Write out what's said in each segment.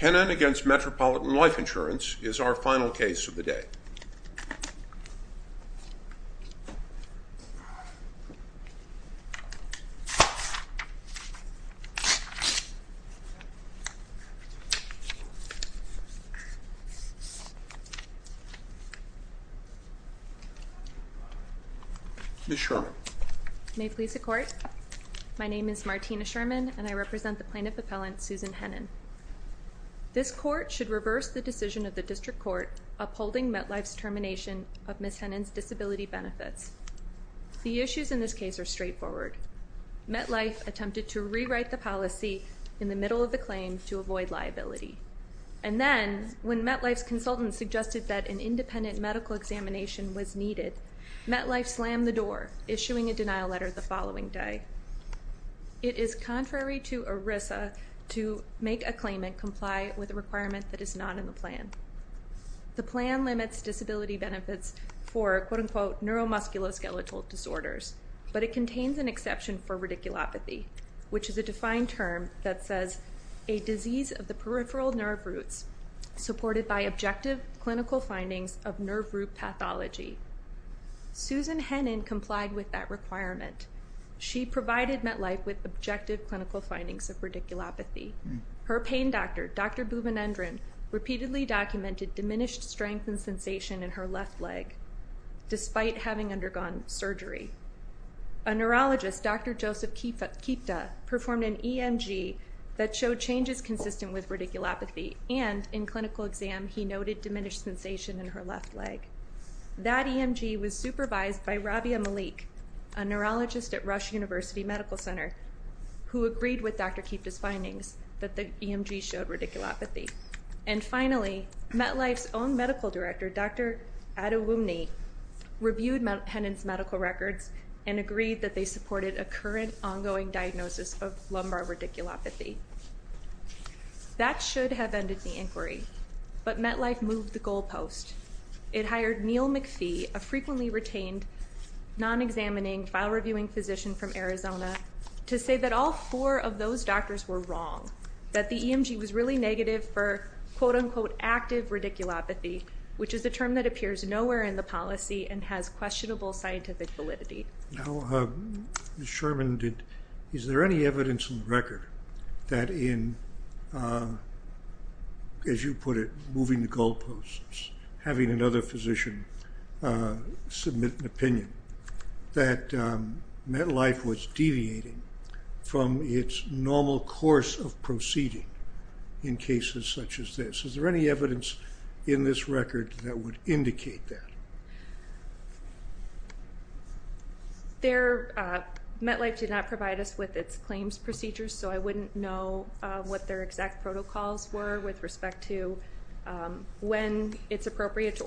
Hennen v. Metropolitan Life Insurance is our final case of the day. Ms. Sherman. May it please the court. My name is Martina Sherman and I represent the plaintiff appellant Susan Hennen. This court should reverse the decision of the district court upholding MetLife's termination of Ms. Hennen's disability benefits. The issues in this case are straightforward. MetLife attempted to rewrite the policy in the middle of the claim to avoid liability and then when MetLife's consultants suggested that an independent medical examination was needed, MetLife slammed the door issuing a to make a claim and comply with a requirement that is not in the plan. The plan limits disability benefits for quote-unquote neuromusculoskeletal disorders but it contains an exception for radiculopathy which is a defined term that says a disease of the peripheral nerve roots supported by objective clinical findings of nerve root pathology. Susan Hennen complied with that requirement. She provided MetLife with objective clinical findings of radiculopathy. Her pain doctor, Dr. Bhuvanendran, repeatedly documented diminished strength and sensation in her left leg despite having undergone surgery. A neurologist, Dr. Joseph Kipta, performed an EMG that showed changes consistent with radiculopathy and in clinical exam he noted diminished sensation in her left leg. That EMG was supervised by Rabia Malik, a neurologist at Rush University Medical Center, who agreed with Dr. Kipta's findings that the EMG showed radiculopathy. And finally, MetLife's own medical director, Dr. Adewumne, reviewed Hennen's medical records and agreed that they supported a current ongoing diagnosis of lumbar radiculopathy. That should have ended the inquiry but MetLife moved the goalpost. It hired Neil McPhee, a physician from Arizona, to say that all four of those doctors were wrong, that the EMG was really negative for quote-unquote active radiculopathy, which is a term that appears nowhere in the policy and has questionable scientific validity. Now, Ms. Sherman, is there any evidence in the record that in, as you put it, moving the goalposts, having another physician submit an opinion, that MetLife was deviating from its normal course of proceeding in cases such as this? Is there any evidence in this record that would indicate that? MetLife did not provide us with its claims procedures, so I wouldn't know what their exact protocols were with respect to when it's appropriate to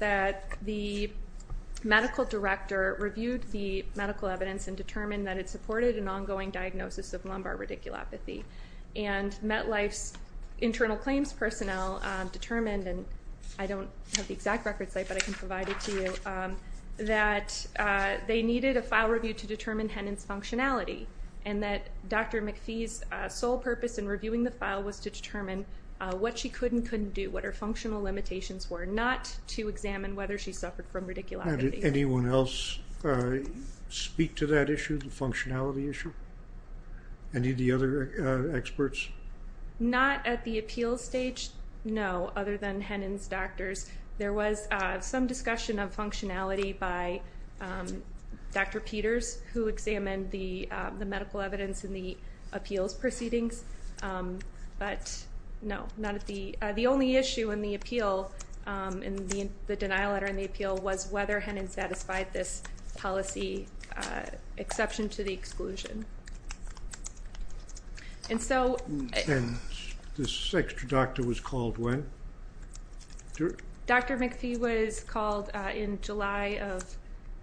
that the medical director reviewed the medical evidence and determined that it supported an ongoing diagnosis of lumbar radiculopathy. And MetLife's internal claims personnel determined, and I don't have the exact record site but I can provide it to you, that they needed a file review to determine Hennen's functionality and that Dr. McPhee's sole purpose in reviewing the file was to determine what she could and couldn't do, what her functional limitations were, not to examine whether she suffered from radiculopathy. Did anyone else speak to that issue, the functionality issue? Any of the other experts? Not at the appeal stage, no, other than Hennen's doctors. There was some discussion of functionality by Dr. Peters, who examined the medical evidence in the appeals proceedings, but no, not at the appeal stage. The issue in the appeal, in the denial letter in the appeal, was whether Hennen satisfied this policy exception to the exclusion. And so... This extra doctor was called when? Dr. McPhee was called in July of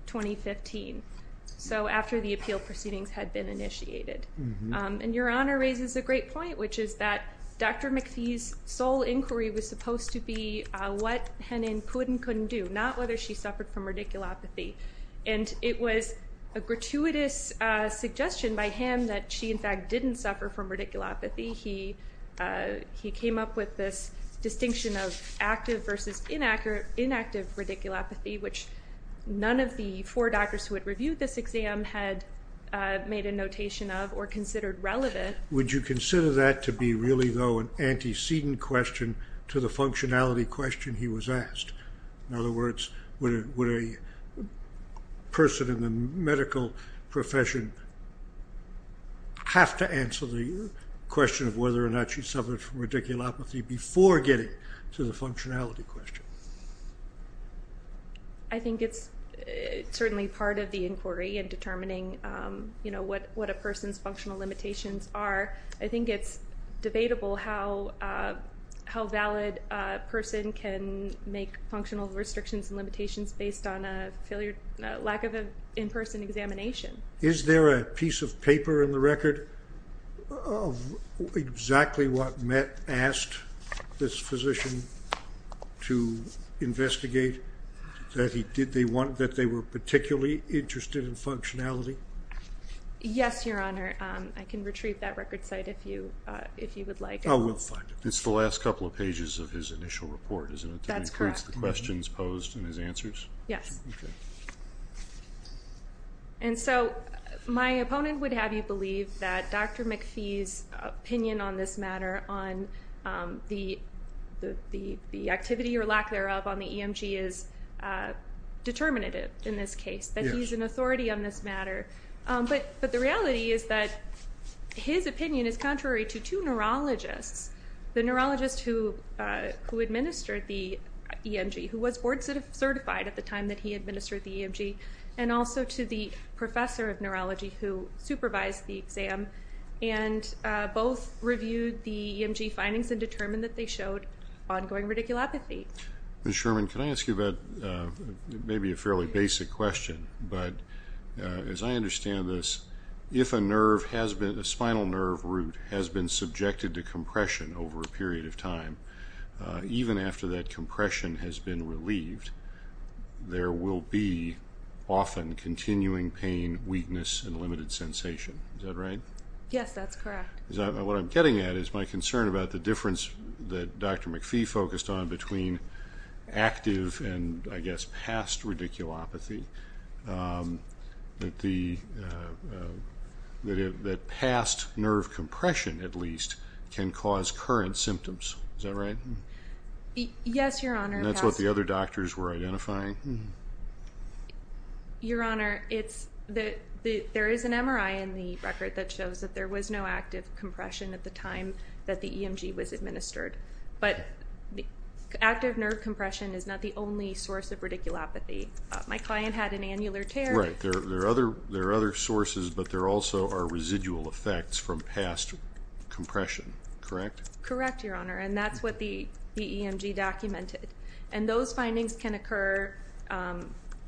2015, so after the appeal proceedings had been initiated. And your Honor raises a great point, which is that Dr. McPhee's sole inquiry was supposed to be what Hennen could and couldn't do, not whether she suffered from radiculopathy. And it was a gratuitous suggestion by him that she, in fact, didn't suffer from radiculopathy. He came up with this distinction of active versus inactive radiculopathy, which none of the four doctors who had reviewed this exam had made a notation of or considered relevant. Would you consider that to be really, though, an antecedent question to the functionality question he was asked? In other words, would a person in the medical profession have to answer the question of whether or not she suffered from radiculopathy before getting to the functionality question? I think it's certainly part of the inquiry in what a person's functional limitations are. I think it's debatable how valid a person can make functional restrictions and limitations based on a lack of an in-person examination. Is there a piece of paper in the record of exactly what Mett asked this physician to investigate? That they were particularly interested in functionality? Yes, Your Honor. I can retrieve that record site if you would like. Oh, we'll find it. It's the last couple of pages of his initial report, isn't it? That's correct. It includes the questions posed and his answers? Yes. And so my opponent would have you believe that Dr. McPhee's opinion on this matter, on the activity or lack thereof on the EMG, is determinative in this case. That he's an authority on this matter. But the reality is that his opinion is contrary to two neurologists. The neurologist who administered the EMG, who was board certified at the time that he administered the EMG, and also to the professor of neurology who supervised the exam, and both reviewed the EMG findings and determined that they showed ongoing radiculopathy. Ms. Sherman, can I ask you about, maybe a fairly basic question, but as I understand this, if a nerve has been, a spinal nerve root, has been subjected to compression over a period of time, even after that compression has been relieved, there will be often continuing pain, weakness, and limited sensation. Is that right? Yes, that's correct. What I'm getting at is my concern about the difference that Dr. McPhee focused on between active and, I guess, past radiculopathy. That the, that past nerve compression, at least, can cause current symptoms. Is that right? Yes, Your Honor. That's what the other doctors were identifying? Your Honor, it's that there is an MRI in the record that shows that there was no active compression at the time that the EMG was administered, but the active nerve compression is not the only source of radiculopathy. My client had an annular tear. Right, there are other, there are other sources, but there also are residual effects from past compression, correct? Correct, Your Honor, and that's what the EMG documented, and those findings can occur,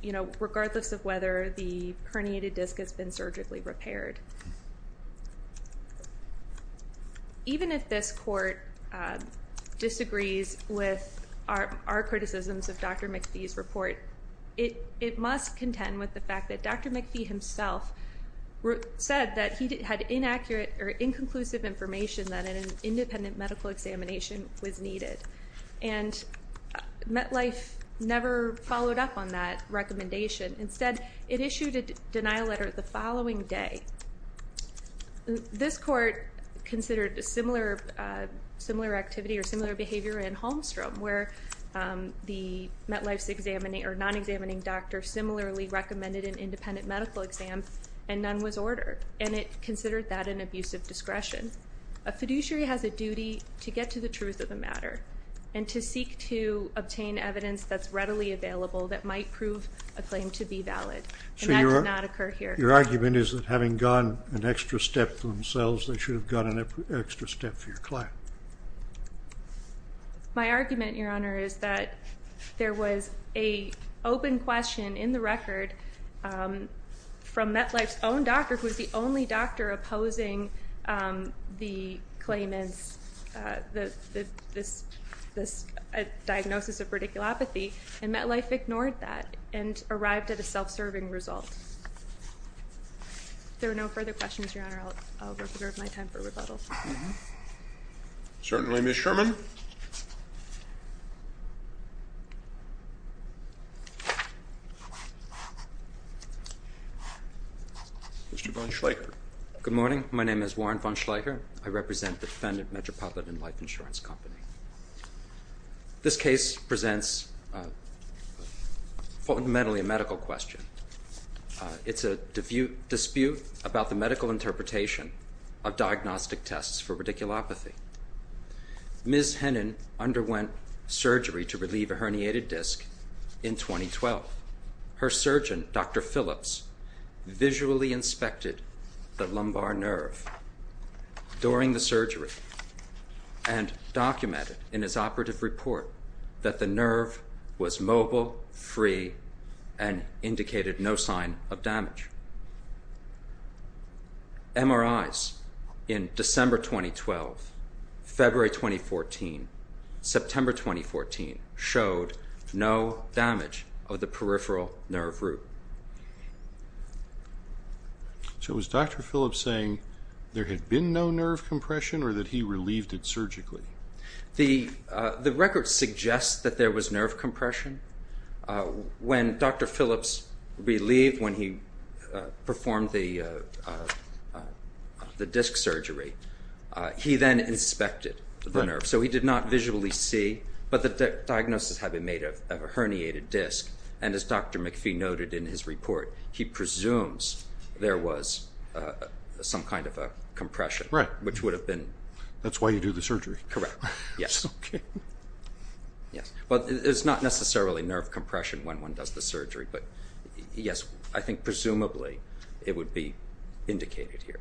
you know, regardless of whether the herniated disc has been surgically repaired. Even if this court disagrees with our criticisms of Dr. McPhee's report, it must contend with the fact that Dr. McPhee himself said that he had inaccurate or inconclusive information that an independent medical examination was needed, and MetLife never followed up on that recommendation. Instead, it issued a denial letter the following day. This court considered a similar activity or similar behavior in Holmstrom, where the MetLife's examining or non-examining doctor similarly recommended an independent medical exam, and none was ordered, and it considered that an abusive discretion. A fiduciary has a duty to get to the truth of the that might prove a claim to be valid, and that did not occur here. Your argument is that having gone an extra step for themselves, they should have gone an extra step for your client. My argument, Your Honor, is that there was a open question in the record from MetLife's own doctor, who was the only doctor opposing the claimants, this diagnosis of radiculopathy, and MetLife ignored that and arrived at a self-serving result. If there are no further questions, Your Honor, I'll reserve my time for rebuttal. Certainly, Ms. Sherman. Mr. von Schleicher. Good morning. My name is Warren von Schleicher. I represent the This case presents fundamentally a medical question. It's a dispute about the medical interpretation of diagnostic tests for radiculopathy. Ms. Hennen underwent surgery to relieve a herniated disc in 2012. Her surgeon, Dr. Phillips, visually inspected the lumbar nerve during the surgery and documented in his operative report that the nerve was mobile, free, and indicated no sign of damage. MRIs in December 2012, February 2014, September 2014 showed no damage of the peripheral nerve root. So was Dr. Phillips saying there had been no nerve compression or that he relieved it surgically? The record suggests that there was nerve compression. When Dr. Phillips relieved, when he performed the disc surgery, he then inspected the nerve. So he did not visually see, but the diagnosis had been made of a herniated disc, and as Dr. McPhee noted in his report, he presumes there was some kind of a compression, which would have been... That's why you do the surgery. Correct. Yes. But it's not necessarily nerve compression when one does the surgery, but yes, I think presumably it would be indicated here.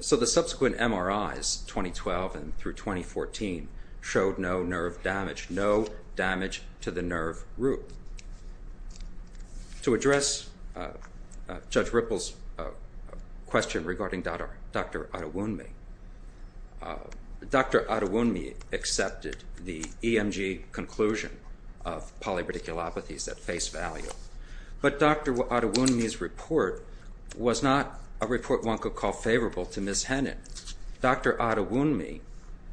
So the subsequent MRIs, 2012 through 2014, showed no nerve damage, no damage to the disc. Judge Ripple's question regarding Dr. Attawunmi. Dr. Attawunmi accepted the EMG conclusion of polyradiculopathies at face value, but Dr. Attawunmi's report was not a report one could call favorable to Ms. Hennon. Dr. Attawunmi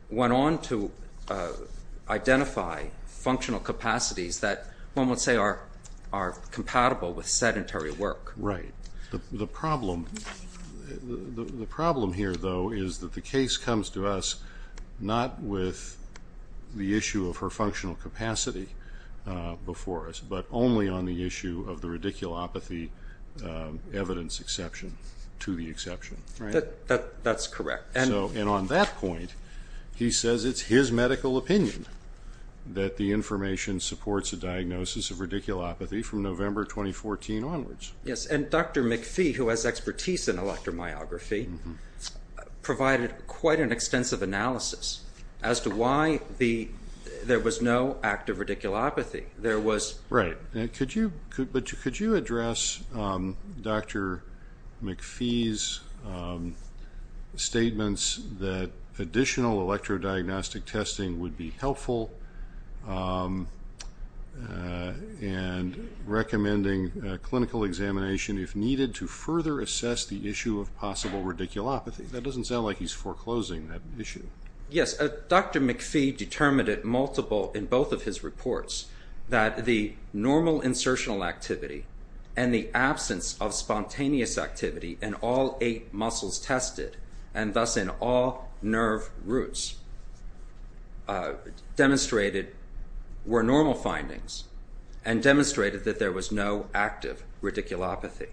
went on to identify functional capacities that one would say are compatible with sedentary work. Right. The problem here, though, is that the case comes to us not with the issue of her functional capacity before us, but only on the issue of the radiculopathy evidence exception to the exception, right? That's correct. And on that point, he says it's his medical opinion that the information supports a Yes. And Dr. McPhee, who has expertise in electromyography, provided quite an extensive analysis as to why there was no active radiculopathy. There was... Right. But could you address Dr. McPhee's statements that additional clinical examination, if needed, to further assess the issue of possible radiculopathy? That doesn't sound like he's foreclosing that issue. Yes. Dr. McPhee determined it multiple in both of his reports that the normal insertional activity and the absence of spontaneous activity in all eight muscles tested and thus in all nerve roots demonstrated were normal findings and demonstrated that there was no active radiculopathy.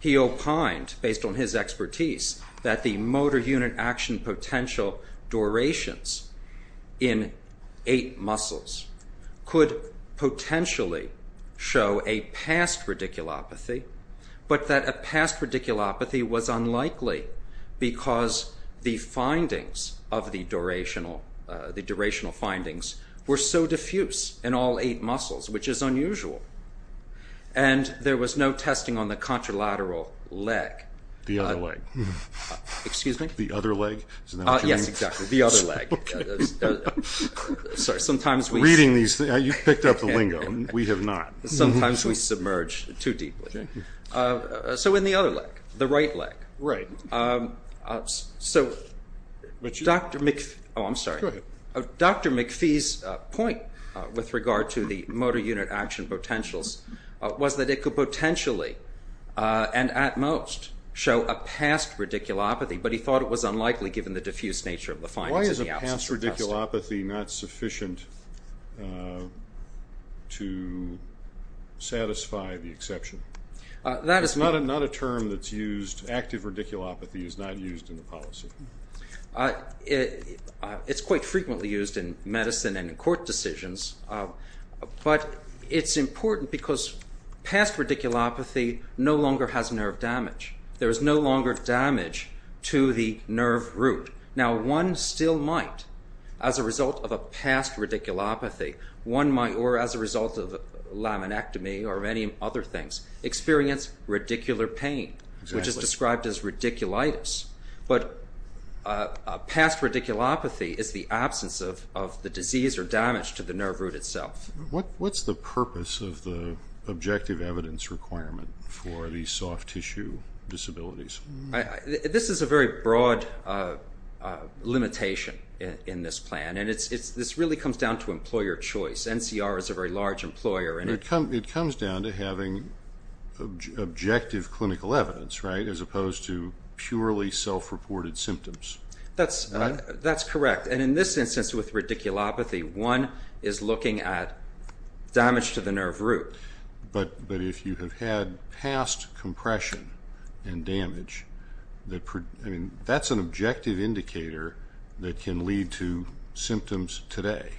He opined, based on his expertise, that the motor unit action potential durations in eight muscles could potentially show a past radiculopathy, but that a past radiculopathy was unlikely because the findings of the durational findings were so diffuse in all eight muscles, which is And there was no testing on the contralateral leg. The other leg. Excuse me? The other leg? Yes, exactly. The other leg. Sorry, sometimes we... Reading these, you picked up the lingo. We have not. Sometimes we submerge too deeply. So in the other leg, the right leg. Right. So Dr. McPhee's point with regard to the motor unit action potentials was that it could potentially and at most show a past radiculopathy, but he thought it was unlikely given the diffuse nature of the findings and the absence of testing. Why is a past radiculopathy not sufficient to satisfy the exception? That is... It's not a term that's used, active radiculopathy is not used in the policy. It's quite frequently used in medicine and in court decisions, but it's important because past radiculopathy no longer has nerve damage. There is no longer damage to the nerve root. Now one still might, as a result of a past radiculopathy, one might, or as a result of laminectomy or any other things, experience radicular pain, which is described as radiculitis, but a past radiculopathy is the absence of the disease or damage to the nerve root itself. What's the purpose of the objective evidence requirement for the soft tissue disabilities? This is a very broad limitation in this plan and this really comes down to employer choice. NCR is a very large employer. It comes down to having objective clinical evidence, right, as opposed to purely self-reported symptoms. That's correct, and in this instance with radiculopathy, one is looking at damage to the nerve root. But if you have had past compression and damage, that's an objective indicator that can lead to symptoms today.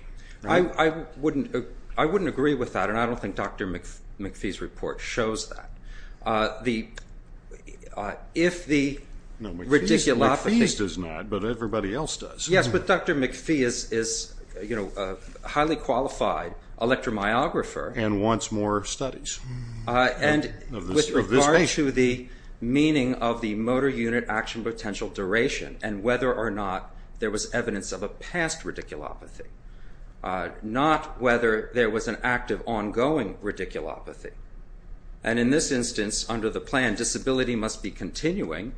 I wouldn't agree with that and I don't think Dr. McPhee's does that. No, McPhee's does not, but everybody else does. Yes, but Dr. McPhee is a highly qualified electromyographer. And wants more studies of this patient. With regard to the meaning of the motor unit action potential duration and whether or not there was evidence of a past radiculopathy. Not whether there was an active ongoing radiculopathy. And in this instance under the plan disability must be continuing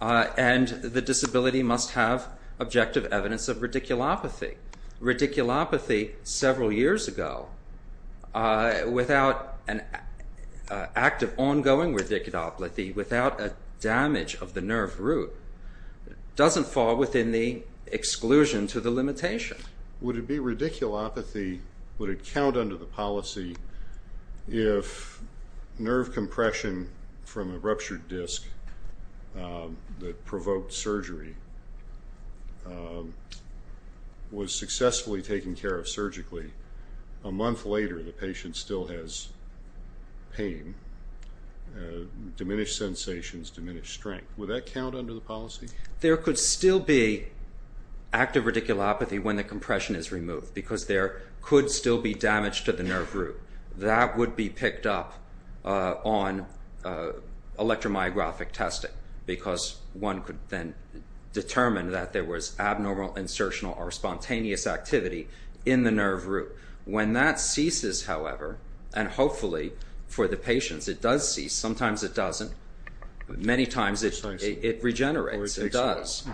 and the disability must have objective evidence of radiculopathy. Radiculopathy several years ago without an active ongoing radiculopathy, without a damage of the nerve root, doesn't fall within the exclusion to the limitation. Would it be radiculopathy, would it count under the policy if nerve compression from a ruptured disc that provoked surgery was successfully taken care of surgically, a month later the patient still has pain, diminished sensations, diminished strength. Would that count under the policy? There could still be active radiculopathy when the compression is removed because there could still be damage to the nerve root. That would be picked up on electromyographic testing because one could then determine that there was abnormal insertional or spontaneous activity in the nerve root. When that ceases, however, and hopefully for the patients it does cease, sometimes it doesn't, many times it regenerates, it does.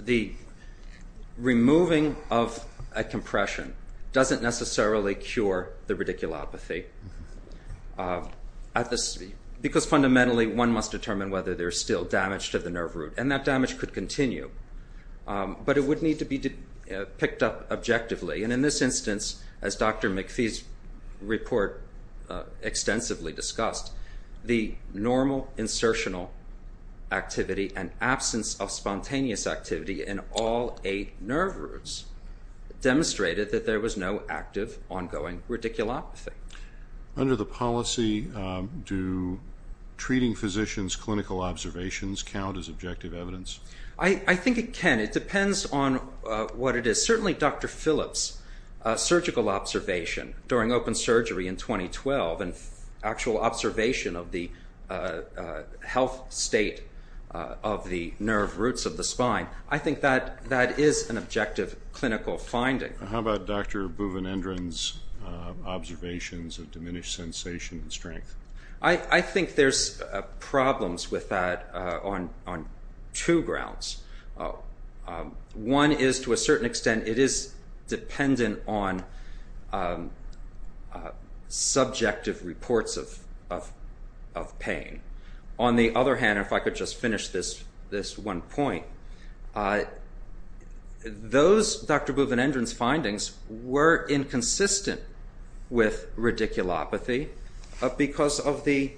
The removing of a compression doesn't necessarily cure the radiculopathy because fundamentally one must determine whether there's still damage to the nerve root and that damage could continue. But it would need to be picked up objectively and in this instance, as Dr. McPhee's report extensively discussed, the normal insertional activity and absence of spontaneous activity in all eight nerve roots demonstrated that there was no active ongoing radiculopathy. Under the policy, do treating physicians' clinical observations count as objective evidence? I think it can. It depends on what it is. Certainly Dr. Phillips' surgical observation during open surgery in 2012 and actual observation of the health state of the nerve roots of the spine, I think that is an objective clinical finding. How about Dr. Buvanendran's observations of diminished sensation and strength? I think there's problems with that on two grounds. One is to a certain extent it is dependent on subjective reports of pain. On the other hand, if I could just finish this one point, Dr. Buvanendran's findings were inconsistent with radiculopathy because of the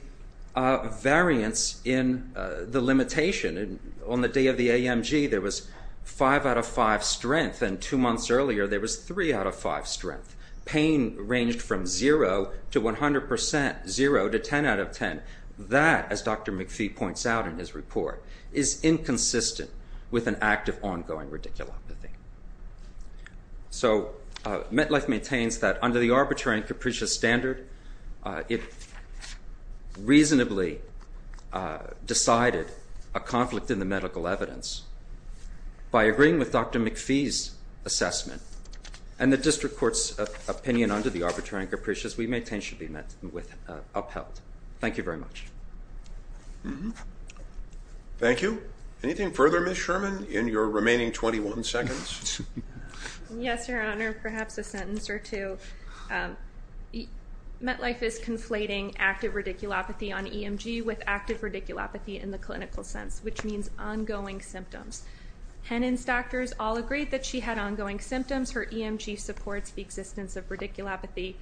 variance in the limitation. On the day of the AMG there was 5 out of 5 strength and two months earlier there was 3 out of 5 strength. Pain ranged from 0 to 100%, 0 to 10 out of consistent with an active ongoing radiculopathy. So MetLife maintains that under the arbitrary and capricious standard it reasonably decided a conflict in the medical evidence. By agreeing with Dr. McPhee's assessment and the district court's opinion under the arbitrary and capricious, we maintain it should be upheld. Thank you very much. Thank you. Anything further Ms. Sherman in your remaining 21 seconds? Yes, your honor. Perhaps a sentence or two. MetLife is conflating active radiculopathy on EMG with active radiculopathy in the clinical sense, which means ongoing symptoms. Henin's doctors all agreed that she had ongoing symptoms. Her EMG supports the existence of radiculopathy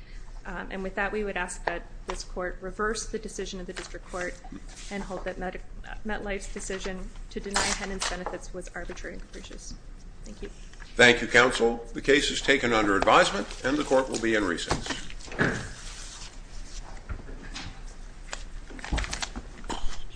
and with that we would ask that this court reverse the decision of the district court and hope that MetLife's decision to deny Henin's benefits was arbitrary and capricious. Thank you. Thank you counsel. The case is taken under advisement and the court will be in recess.